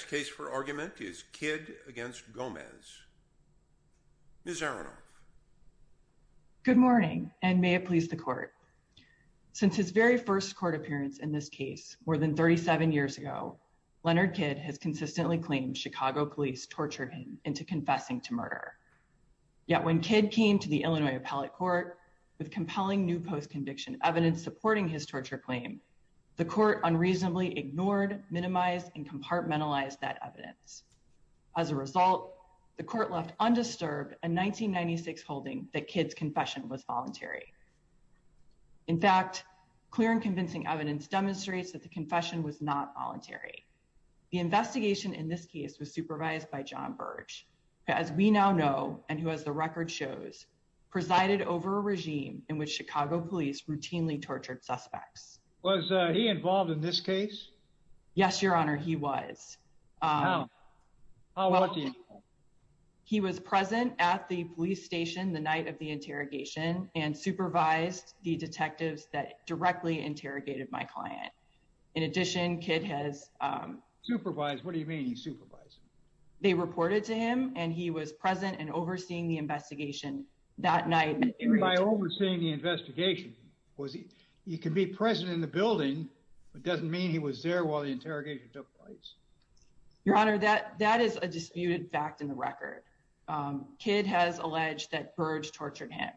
Next case for argument is Kidd v. Gomez. Ms. Aronoff. Good morning, and may it please the Court. Since his very first court appearance in this case more than 37 years ago, Leonard Kidd has consistently claimed Chicago police tortured him into confessing to murder. Yet when Kidd came to the Illinois Appellate Court with compelling new post-conviction evidence supporting his torture claim, the Court unreasonably ignored, minimized, and compartmentalized that evidence. As a result, the Court left undisturbed a 1996 holding that Kidd's confession was voluntary. In fact, clear and convincing evidence demonstrates that the confession was not voluntary. The investigation in this case was supervised by John Burge, who, as we now know, and who, as the record shows, presided over a regime in which Chicago police routinely tortured suspects. Was he involved in this case? Yes, Your Honor, he was. He was present at the police station the night of the interrogation and supervised the detectives that directly interrogated my client. In addition, Kidd has supervised. What do you mean he supervised? They reported to him and he was present and overseeing the investigation that night. By overseeing the investigation, he can be present in the building, but it doesn't mean he was there while the interrogation took place. Your Honor, that is a disputed fact in the record. Kidd has alleged that Burge tortured him.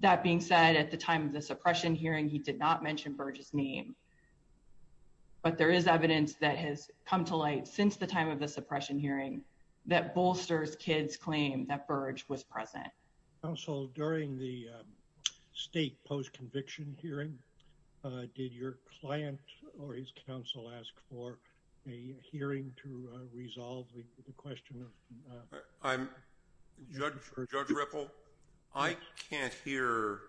That being said, at the time of the suppression hearing, he did not mention Burge's name. But there is evidence that has come to light since the time of the suppression hearing that bolsters Kidd's claim that Burge was present. Counsel, during the state post-conviction hearing, did your client or his counsel ask for a hearing to resolve the question? Judge Ripple, I can't hear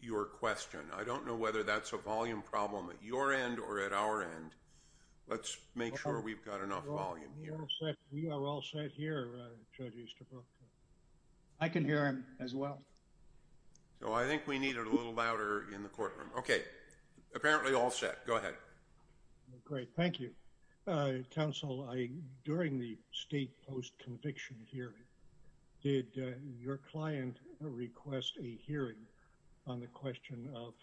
your question. I don't know whether that's a volume problem at your end or at our end. Let's make sure we've got enough volume here. We are all set here, Judge Easterbrook. I can hear him as well. So I think we need it a little louder in the courtroom. Okay, apparently all set. Go ahead. Great, thank you. Counsel, during the state post-conviction hearing, did your client request a hearing on the question of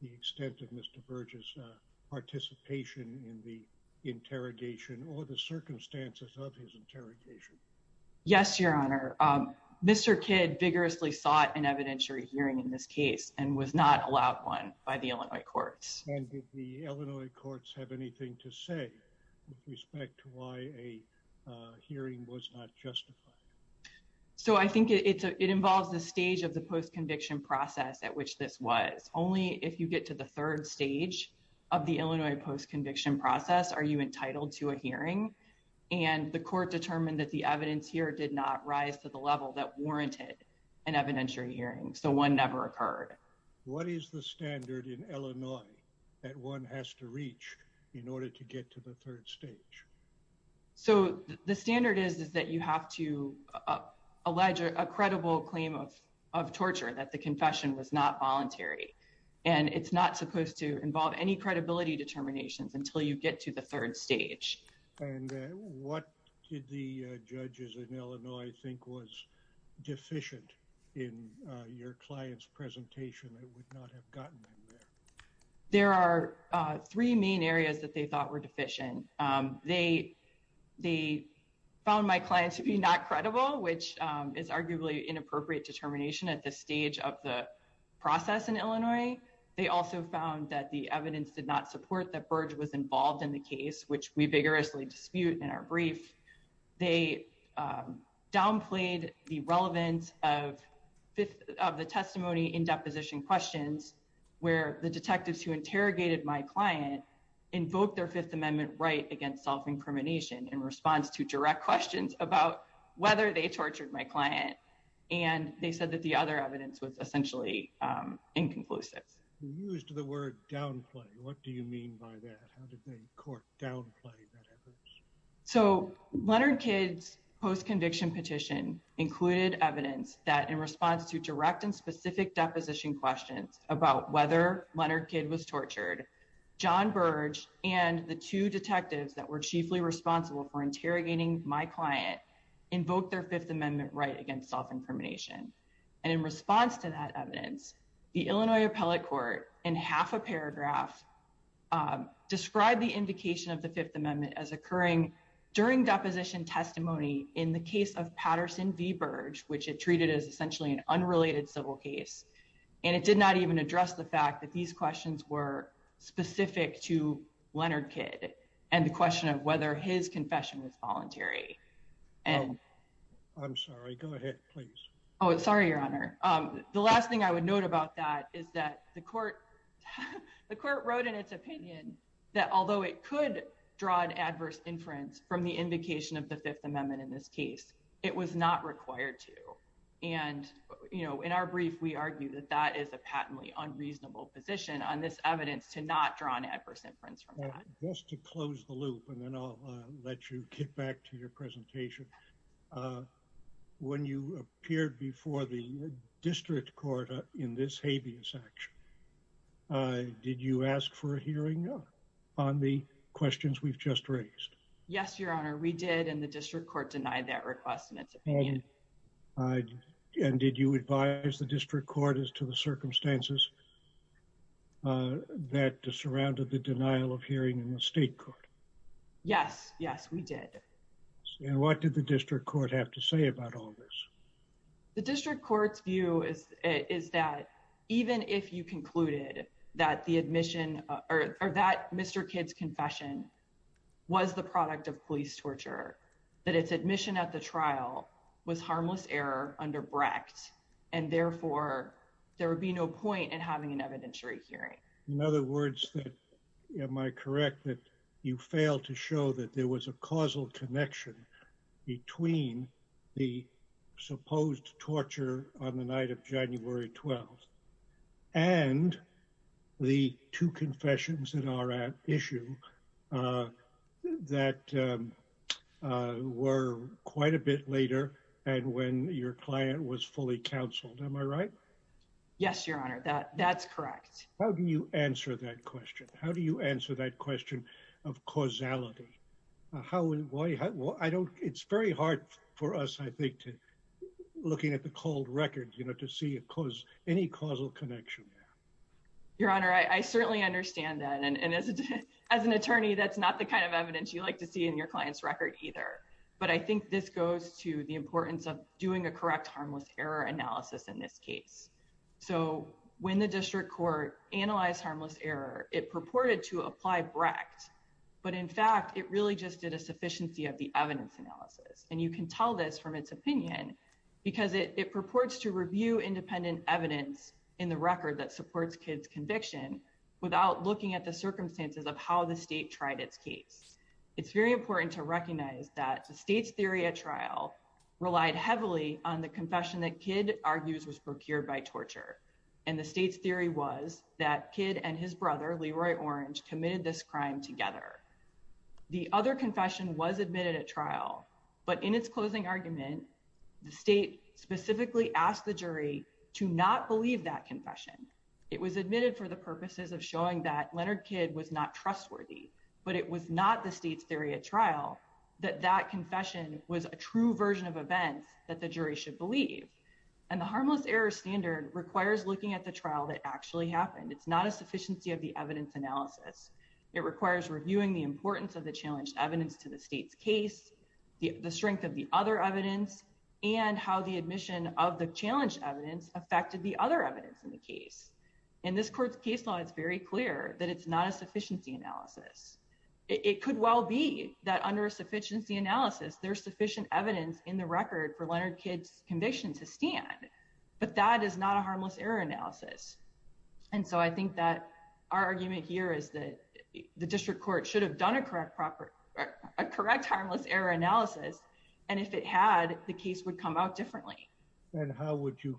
the extent of Mr. Burge's participation in the interrogation or the circumstances of his interrogation? Yes, Your Honor. Mr. Kidd vigorously sought an evidentiary hearing in this case and was not allowed one by the Illinois courts. And did the Illinois courts have anything to say with respect to why a hearing was not justified? So I think it involves the stage of the post-conviction process at which this was. Only if you get to the third stage of the Illinois post-conviction process are you entitled to a hearing. And the court determined that the evidence here did not rise to the level that warranted an evidentiary hearing. So one never occurred. What is the So the standard is that you have to allege a credible claim of torture, that the confession was not voluntary. And it's not supposed to involve any credibility determinations until you get to the third stage. And what did the judges in Illinois think was deficient in your client's presentation that would not have gotten them there? There are three main areas that they thought were deficient. They found my client to be not credible, which is arguably inappropriate determination at this stage of the process in Illinois. They also found that the evidence did not support that Burge was involved in the case, which we vigorously dispute in our brief. They downplayed the relevance of the testimony in deposition questions where the Fifth Amendment right against self-incrimination in response to direct questions about whether they tortured my client. And they said that the other evidence was essentially inconclusive. You used the word downplay. What do you mean by that? How did they court downplay that evidence? So Leonard Kidd's post-conviction petition included evidence that in response to direct and specific deposition questions about whether Leonard Kidd was tortured, John Burge and the two detectives that were chiefly responsible for interrogating my client invoked their Fifth Amendment right against self-incrimination. And in response to that evidence, the Illinois Appellate Court, in half a paragraph, described the indication of the Fifth Amendment as occurring during deposition testimony in the case of Patterson v. Burge, which it treated as essentially an unrelated civil case. And it did not even address the fact that these questions were specific to Leonard Kidd and the question of whether his confession was voluntary. I'm sorry. Go ahead, please. Oh, sorry, Your Honor. The last thing I would note about that is that the court wrote in its opinion that although it could draw an adverse inference from the indication of the Fifth Amendment in this case, it was not required to. And, you know, in our brief, we argue that that is a patently unreasonable position on this evidence to not draw an adverse inference from that. Just to close the loop, and then I'll let you get back to your presentation. When you appeared before the district court in this habeas action, did you ask for a hearing on the questions we've just raised? Yes, Your Honor, we did. And the district court denied that request in its opinion. And did you advise the district court as to the circumstances that surrounded the denial of hearing in the state court? Yes, yes, we did. And what did the district court have to say about all this? The district court's view is that even if you concluded that the admission or that Mr. Kidd's a product of police torture, that its admission at the trial was harmless error under Brecht, and therefore, there would be no point in having an evidentiary hearing. In other words, am I correct that you failed to show that there was a causal connection between the supposed torture on the night of January 12th, and the two confessions in our issue that were quite a bit later, and when your client was fully counseled? Am I right? Yes, Your Honor, that's correct. How do you answer that question? How do you answer that question of causality? It's very hard for us, I think, looking at the cold record to see any causal connection. Your Honor, I certainly understand that. And as an attorney, that's not the kind of evidence you like to see in your client's record either. But I think this goes to the importance of doing a correct harmless error analysis in this case. So when the district court analyzed harmless error, it purported to apply Brecht. But in fact, it really just did a sufficiency of the evidence analysis. And you can tell this from its opinion, because it purports to review independent evidence in the record that supports Kidd's conviction, without looking at the circumstances of how the state tried its case. It's very important to recognize that the state's theory at trial relied heavily on the confession that Kidd argues was procured by torture. And the state's theory was that Kidd and his brother, Leroy Orange, committed this crime together. The other confession was admitted at trial. But in its closing argument, the state specifically asked the jury to not believe that confession. It was admitted for the purposes of showing that Leonard Kidd was not trustworthy, but it was not the state's theory at trial, that that confession was a true version of events that the jury should believe. And the harmless error standard requires looking at the trial that actually happened. It's not a sufficiency of the evidence analysis. It requires reviewing the importance of the challenged evidence to the state's case, the strength of the other evidence, and how the admission of the challenge evidence affected the other evidence in the case. In this court's case law, it's very clear that it's not a sufficiency analysis. It could well be that under a sufficiency analysis, there's sufficient evidence in the record for Leonard Kidd's conviction to stand, but that is not a harmless error analysis. And so I think that our argument here is that the district court should have done a correct harmless error analysis, and if it had, the case would come out differently. And how would you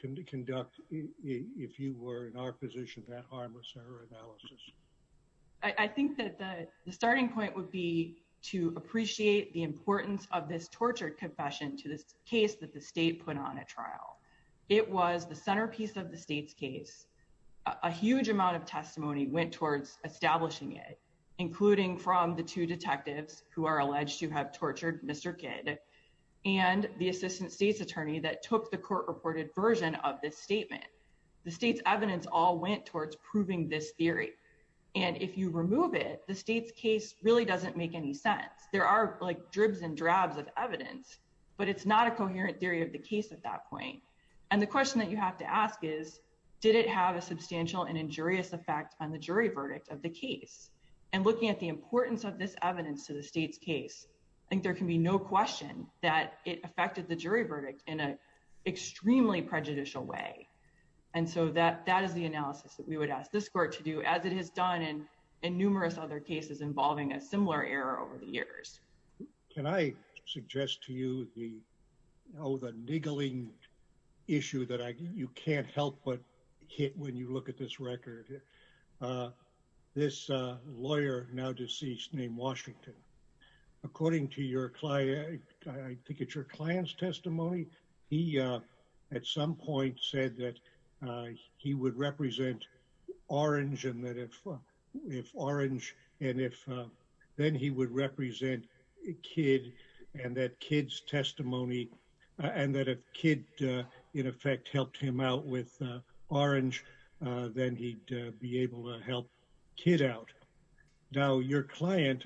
conduct, if you were in our position, that harmless error analysis? I think that the starting point would be to appreciate the importance of this tortured confession to this case that the state put on at trial. It was the centerpiece of the state's case. A huge amount of testimony went towards establishing it, including from the two detectives who are alleged to have tortured Mr. Kidd and the assistant state's attorney that took the court-reported version of this statement. The state's evidence all went towards proving this theory, and if you remove it, the state's case really doesn't make any sense. There are like dribs and drabs of evidence, but it's not a coherent theory of the case at that point. And the question that you have to ask is, did it have a substantial and injurious effect on the state's case? I think there can be no question that it affected the jury verdict in an extremely prejudicial way. And so that is the analysis that we would ask this court to do, as it has done in numerous other cases involving a similar error over the years. Can I suggest to you the niggling issue that you can't help but hit when you look at this record? This lawyer, now deceased, named Washington. According to your client's testimony, he at some point said that he would represent Orange and that if Orange and if then he would represent Kidd and that Kidd's testimony, and that if Kidd in effect helped him out with Orange, then he'd be able to help Kidd out. Now, your client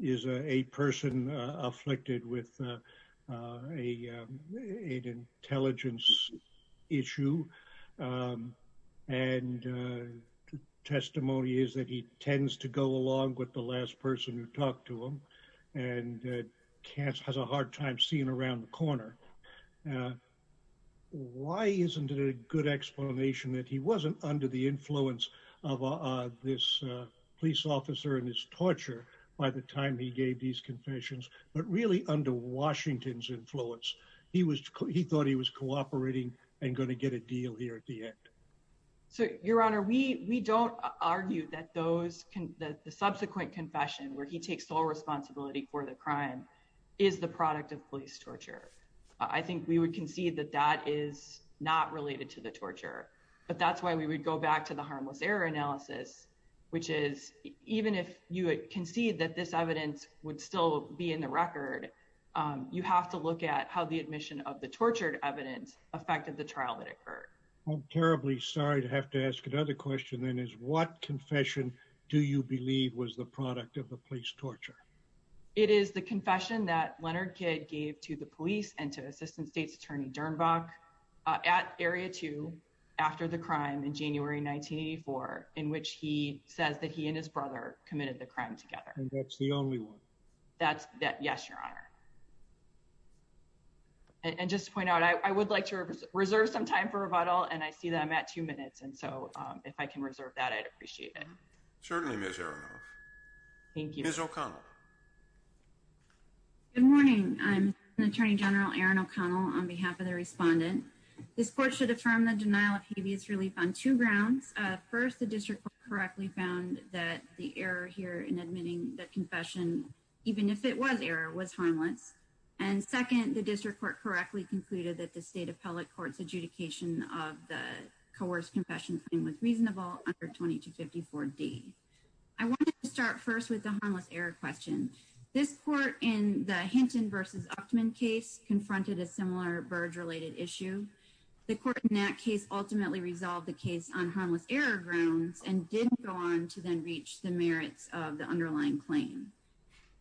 is a person afflicted with an intelligence issue, and testimony is that he tends to go along with the last person who talked to him and has a hard time seeing around the corner. Why isn't it a good explanation that he wasn't under the influence of this police officer and his torture by the time he gave these confessions, but really under Washington's influence? He thought he was cooperating and going to get a deal here at the end. So, your honor, we don't argue that the subsequent confession where he takes sole responsibility for the crime is the product of police torture. I think we would concede that that is not related to the torture, but that's why we would go back to the harmless error analysis, which is even if you concede that this evidence would still be in the record, you have to look at how the admission of the tortured evidence affected the trial that occurred. I'm terribly sorry to have to ask another question, then, is what confession do you believe was the product of the police torture? It is the confession that Leonard Kidd gave to the police and to Assistant State's Attorney Dernbach at Area 2 after the crime in January 1984, in which he says that he and his brother committed the crime together. And that's the only one? Yes, your honor. And just to point out, I would like to reserve some time for rebuttal, and I see that I'm at the end of my time. I appreciate it. Certainly, Ms. Aronoff. Thank you. Ms. O'Connell. Good morning. I'm Attorney General Erin O'Connell on behalf of the respondent. This court should affirm the denial of habeas relief on two grounds. First, the district correctly found that the error here in admitting the confession, even if it was error, was harmless. And second, the district court correctly concluded that the state appellate court's adjudication of the coerced confession claim was reasonable under 2254D. I wanted to start first with the harmless error question. This court in the Hinton v. Uchtman case confronted a similar verge-related issue. The court in that case ultimately resolved the case on harmless error grounds and didn't go on to then reach the merits of the underlying claim.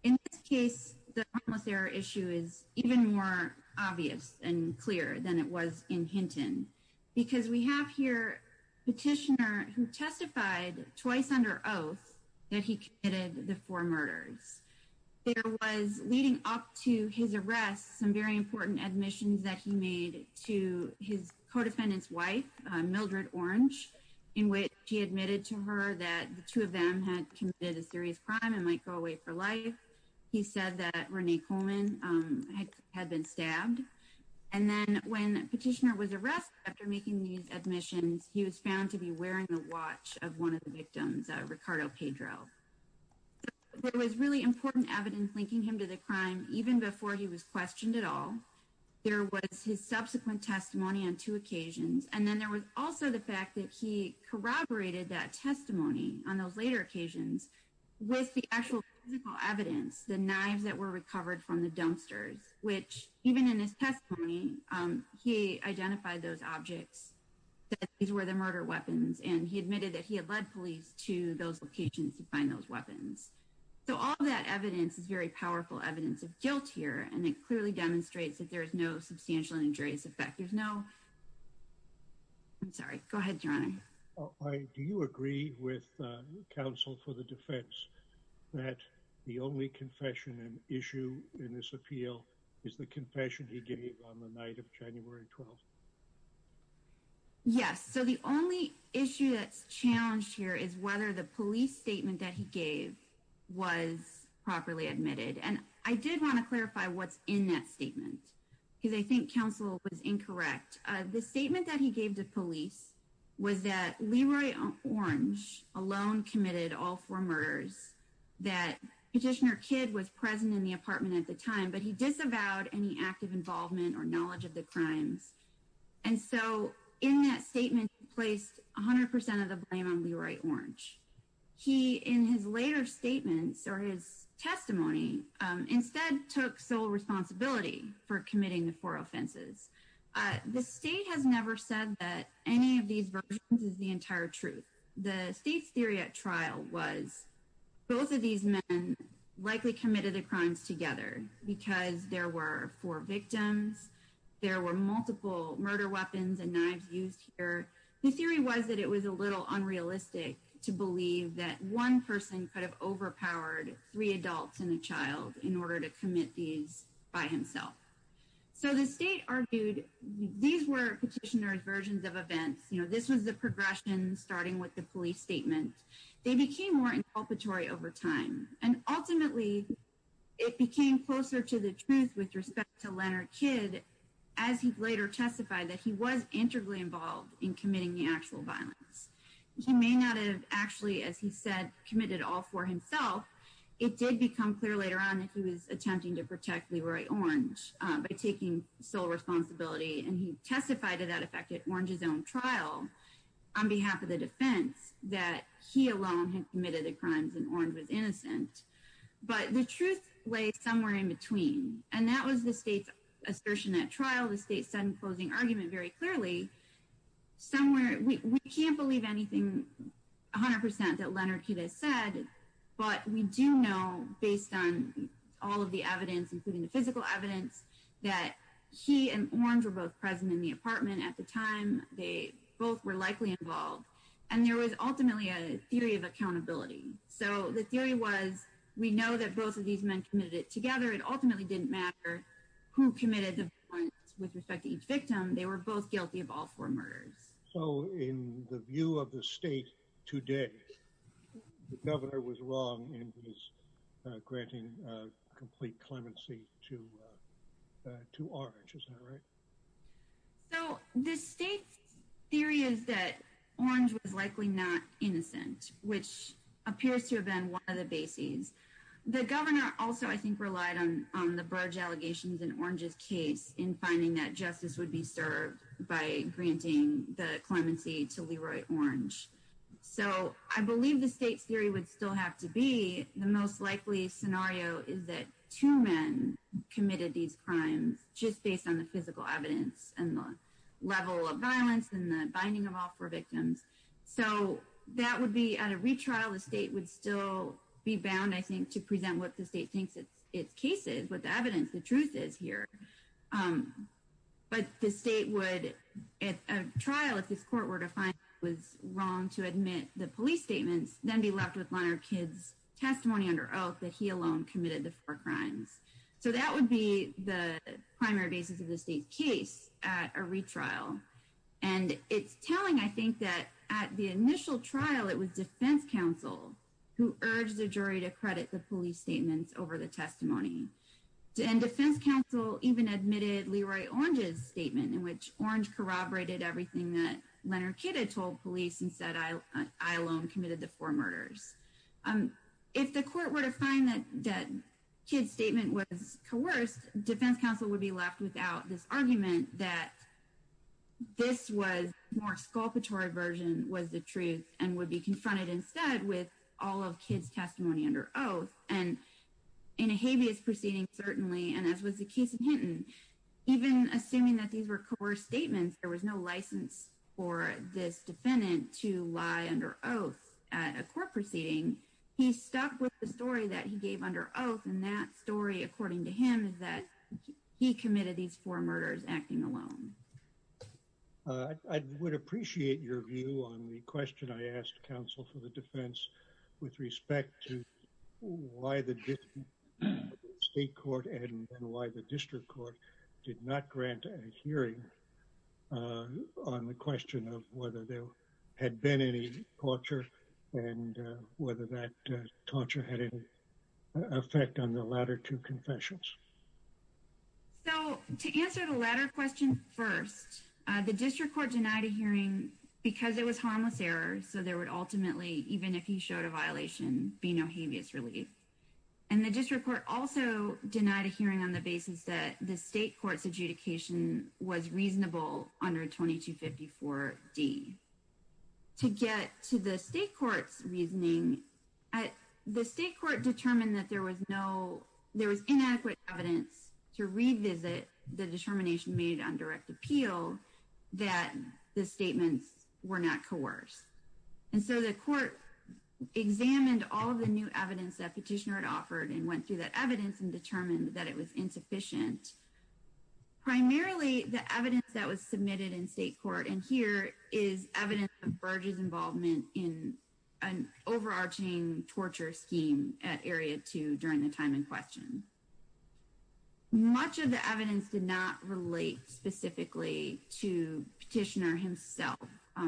In this case, the harmless error issue is even more obvious and clear than it was in Hinton, because we have here a petitioner who testified twice under oath that he committed the four murders. There was, leading up to his arrest, some very important admissions that he made to his co-defendant's wife, Mildred Orange, in which he admitted to her that the two of them had committed a serious crime and might go away for life. He said that Renee Coleman had been stabbed. And then when the petitioner was arrested after making these admissions, he was found to be wearing the watch of one of the victims, Ricardo Pedro. There was really important evidence linking him to the crime, even before he was questioned at all. There was his subsequent testimony on two occasions. And then there was also the fact that he corroborated that testimony on those later occasions with the actual physical evidence, the knives that were recovered from the dumpsters, which even in his testimony, he identified those objects, that these were the murder weapons, and he admitted that he had led police to those locations to find those weapons. So all that evidence is very powerful evidence of guilt here, and it clearly demonstrates that there is no substantial injurious effect. There's no... I'm sorry. Go ahead, Your Honor. Do you agree with counsel for the defense that the only confession and issue in this appeal is the confession he gave on the night of January 12th? Yes. So the only issue that's challenged here is whether the police statement that he gave was properly admitted. And I did want to clarify what's in that statement, because I think counsel was incorrect. The statement that he gave to police was that Leroy Orange alone committed all four murders, that Petitioner Kidd was present in the apartment at the time, but he disavowed any active involvement or knowledge of the crimes. And so in that statement, he placed 100% of the blame on Leroy Orange. He, in his later statements or his testimony, instead took sole responsibility for committing the four offenses. The state has never said that any of these versions is the entire truth. The state's theory at trial was both of these men likely committed the crimes together because there were four victims, there were multiple murder weapons and knives used here. The theory was that it was a little unrealistic to believe that one person could have overpowered three adults and a child in order to commit these by himself. So the state argued these were Petitioner's versions of events. You know, this was the progression starting with the police statement. They became more inculpatory over time. And ultimately, it became closer to the truth with respect to Leroy Kidd as he later testified that he was integrally involved in committing the actual He may not have actually, as he said, committed all for himself. It did become clear later on that he was attempting to protect Leroy Orange by taking sole responsibility. And he testified to that effect at Orange's own trial on behalf of the defense that he alone had committed the crimes and Orange was innocent. But the truth lay somewhere in between. And that was the state's assertion at trial, the state's sudden closing argument very clearly. Somewhere, we can't believe anything 100% that Leroy Kidd has said. But we do know based on all of the evidence, including the physical evidence, that he and Orange were both present in the apartment at the time they both were likely involved. And there was ultimately a theory of accountability. So the theory was, we know that both of these men committed it together, it ultimately didn't matter who committed the crimes with respect to each victim, they were both guilty of all four murders. So in the view of the state today, the governor was wrong in his granting complete clemency to to Orange, is that right? So the state's theory is that Orange was likely not innocent, which case in finding that justice would be served by granting the clemency to Leroy Orange. So I believe the state's theory would still have to be the most likely scenario is that two men committed these crimes just based on the physical evidence and the level of violence and the binding of all four victims. So that would be at a retrial, the state would still be bound, I think, to present what the state thinks its case is, what the evidence, the truth is here. But the state would, at a trial, if this court were to find it was wrong to admit the police statements, then be left with Leonard Kidd's testimony under oath that he alone committed the four crimes. So that would be the primary basis of the state's case at a retrial. And it's telling, I think, that at the initial trial, it was defense counsel who urged the jury to credit the police statements over the testimony. And defense counsel even admitted Leroy Orange's statement in which Orange corroborated everything that Leonard Kidd had told police and said I alone committed the four murders. If the court were to find that Kidd's statement was coerced, defense counsel would be left without this argument that this was more sculptured version was the truth and would be confronted instead with all of Kidd's testimony under oath. And in a habeas proceeding, certainly, and as was the case in Hinton, even assuming that these were coerced statements, there was no license for this defendant to lie under oath at a court proceeding. He stuck with the story that he gave under oath, and that story, according to him, is that he committed these four murders acting alone. I would appreciate your view on the question I asked counsel for the defense with respect to why the state court and why the district court did not grant a hearing on the question of whether there had been any torture and whether that torture had effect on the latter two confessions. So to answer the latter question first, the district court denied a hearing because it was harmless error. So there would ultimately, even if he showed a violation, be no habeas relief. And the district court also denied a hearing on the basis that the state court's adjudication was reasonable under 2254 D. To get to the state court's reasoning, at the state court determined that there was no, there was inadequate evidence to revisit the determination made on direct appeal that the statements were not coerced. And so the court examined all of the new evidence that petitioner had offered and went through that evidence and determined that it was insufficient. Primarily, the evidence that was submitted in state court, and here is evidence of Burge's involvement in an overarching torture scheme at area two during the time in question. Much of the evidence did not relate specifically to petitioner himself.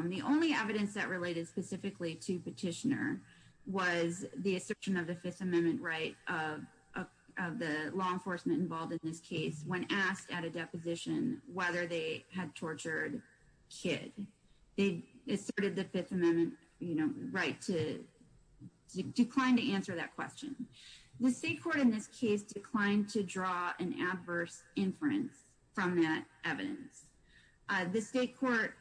The only evidence that related specifically to petitioner was the assertion of the fifth amendment right of the law enforcement involved in this case when asked at a deposition whether they had tortured kid. They asserted the fifth amendment right to decline to answer that question. The state court in this case declined to draw an adverse inference from that evidence. The state court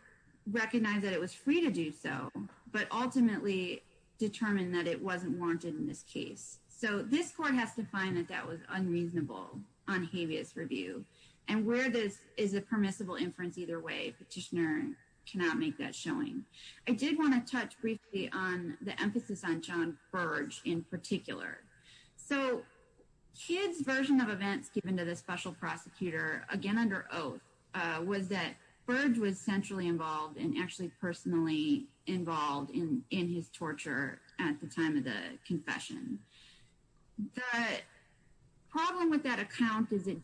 recognized that it was free to do so, but ultimately determined that it wasn't warranted in this case. So this court has to find that that was unreasonable on habeas review and where this is a permissible inference either way petitioner cannot make that showing. I did want to touch briefly on the emphasis on John Burge in particular. So kid's version of events given to the special prosecutor again under oath was that Burge was centrally involved and actually personally involved in in his torture at the time of the confession. The problem with that account is it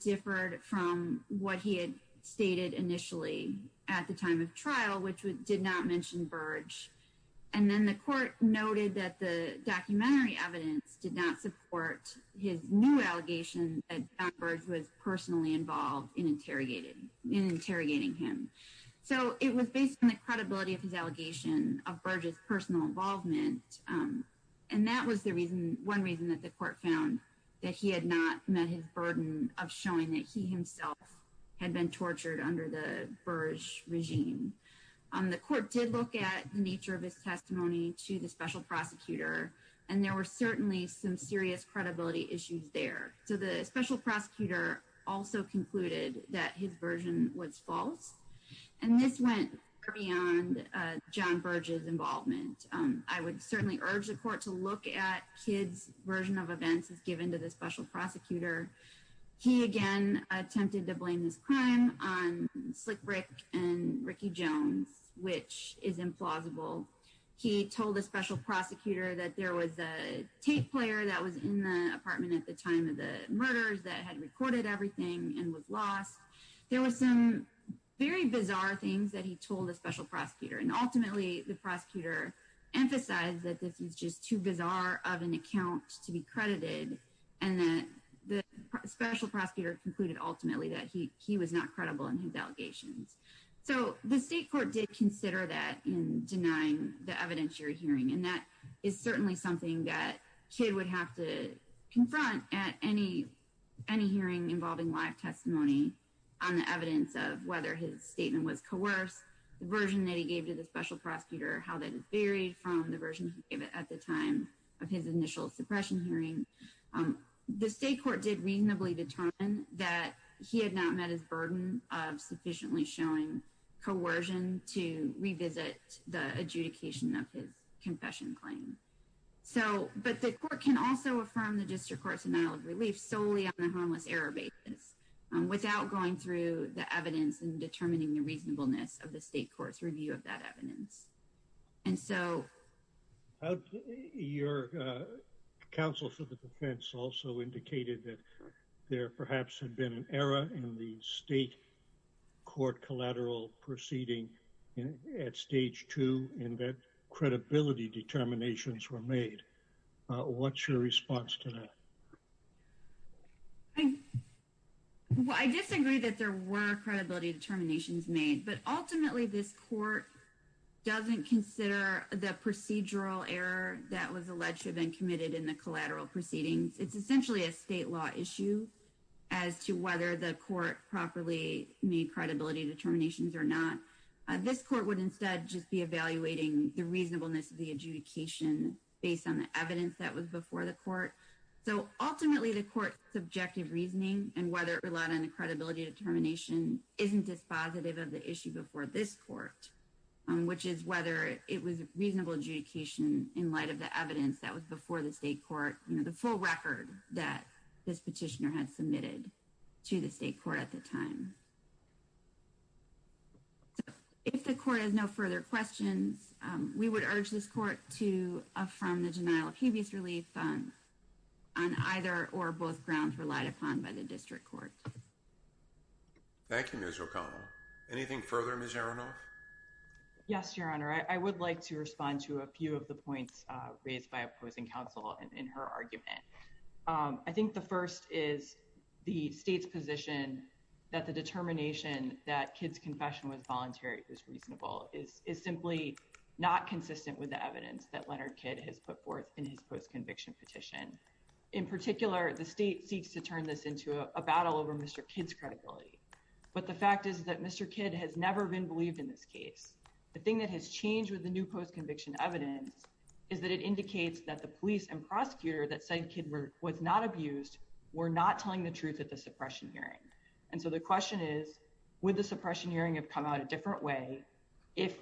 stated initially at the time of trial which did not mention Burge and then the court noted that the documentary evidence did not support his new allegation that Burge was personally involved in interrogating him. So it was based on the credibility of his allegation of Burge's personal involvement and that was the reason one reason that the court found that he had not met his Burge regime. The court did look at the nature of his testimony to the special prosecutor and there were certainly some serious credibility issues there. So the special prosecutor also concluded that his version was false and this went beyond John Burge's involvement. I would certainly urge the court to look at kid's version of events as given to the special prosecutor. He again attempted to blame this crime on Slick Brick and Ricky Jones which is implausible. He told the special prosecutor that there was a tape player that was in the apartment at the time of the murders that had recorded everything and was lost. There were some very bizarre things that he told the special prosecutor and ultimately the prosecutor emphasized that this was just too special prosecutor concluded ultimately that he was not credible in his allegations. So the state court did consider that in denying the evidence you're hearing and that is certainly something that kid would have to confront at any hearing involving live testimony on the evidence of whether his statement was coerced, the version that he gave to the special prosecutor, how that is varied from the version he gave it at the time of his initial suppression hearing. The state court did reasonably determine that he had not met his burden of sufficiently showing coercion to revisit the adjudication of his confession claim. So but the court can also affirm the district court's denial of relief solely on the harmless error basis without going through the evidence and determining the reasonableness of the state court's review of that evidence. And so your counsel for the defense also indicated that there perhaps had been an error in the state court collateral proceeding at stage two in that credibility determinations were made. What's your response to that? Well I disagree that there were credibility determinations made but ultimately this court doesn't consider the procedural error that was alleged to have been committed in the collateral proceedings. It's essentially a state law issue as to whether the court properly made credibility determinations or not. This court would instead just be evaluating the reasonableness of the adjudication based on the evidence that was before the court. So ultimately the court's subjective reasoning and whether it relied on the credibility determination isn't dispositive of the issue before this court which is whether it was reasonable adjudication in light of the evidence that was before the state court you know the full record that this petitioner had submitted to the state court at the time. So if the court has no further questions we would urge this court to affirm the denial of hubris relief on either or both grounds relied upon by the district court. Thank you Ms. O'Connell. Anything further Ms. Aronoff? Yes your honor I would like to respond to a few of the points raised by opposing counsel in her argument. I think the first is the state's position that the determination that Kidd's confession was voluntary was reasonable is simply not consistent with the evidence that Leonard Kidd has put forth in his post-conviction petition. In particular the state seeks to turn this into a battle over Mr. Kidd's credibility. But the fact is that Mr. Kidd has never been believed in this case. The thing that has changed with the new post-conviction evidence is that it indicates that the police and prosecutor that said Kidd was not abused were not telling the truth at the suppression hearing. And so the question is would the suppression hearing have come out a different way if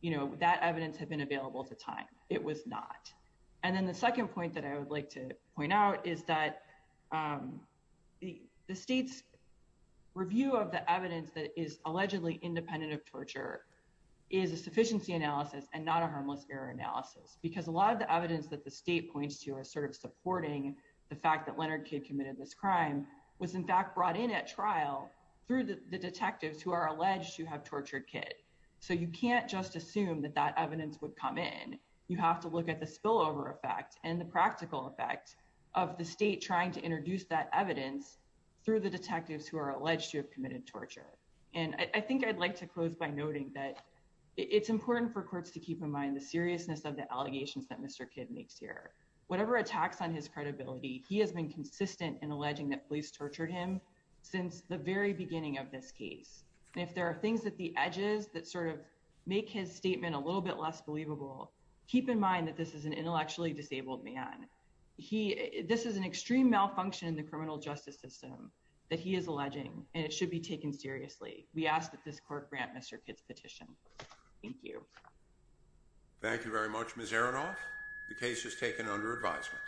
you know that evidence had been available at the time? It was not. And then the second point that I would like to point out is that the state's review of the evidence that is allegedly independent of torture is a sufficiency analysis and not a harmless error analysis. Because a lot of the evidence that the state points to are sort of supporting the fact that Leonard Kidd committed this crime was in fact brought in at trial through the detectives who are alleged to have tortured Kidd. So you can't just assume that evidence would come in. You have to look at the spillover effect and the practical effect of the state trying to introduce that evidence through the detectives who are alleged to have committed torture. And I think I'd like to close by noting that it's important for courts to keep in mind the seriousness of the allegations that Mr. Kidd makes here. Whatever attacks on his credibility he has been consistent in alleging that police tortured him since the very beginning of this case. And if there are things at the edges that sort of make his statement a little bit less believable, keep in mind that this is an intellectually disabled man. This is an extreme malfunction in the criminal justice system that he is alleging and it should be taken seriously. We ask that this court grant Mr. Kidd's petition. Thank you. Thank you very much Ms. Aronoff. The case is taken under advisement.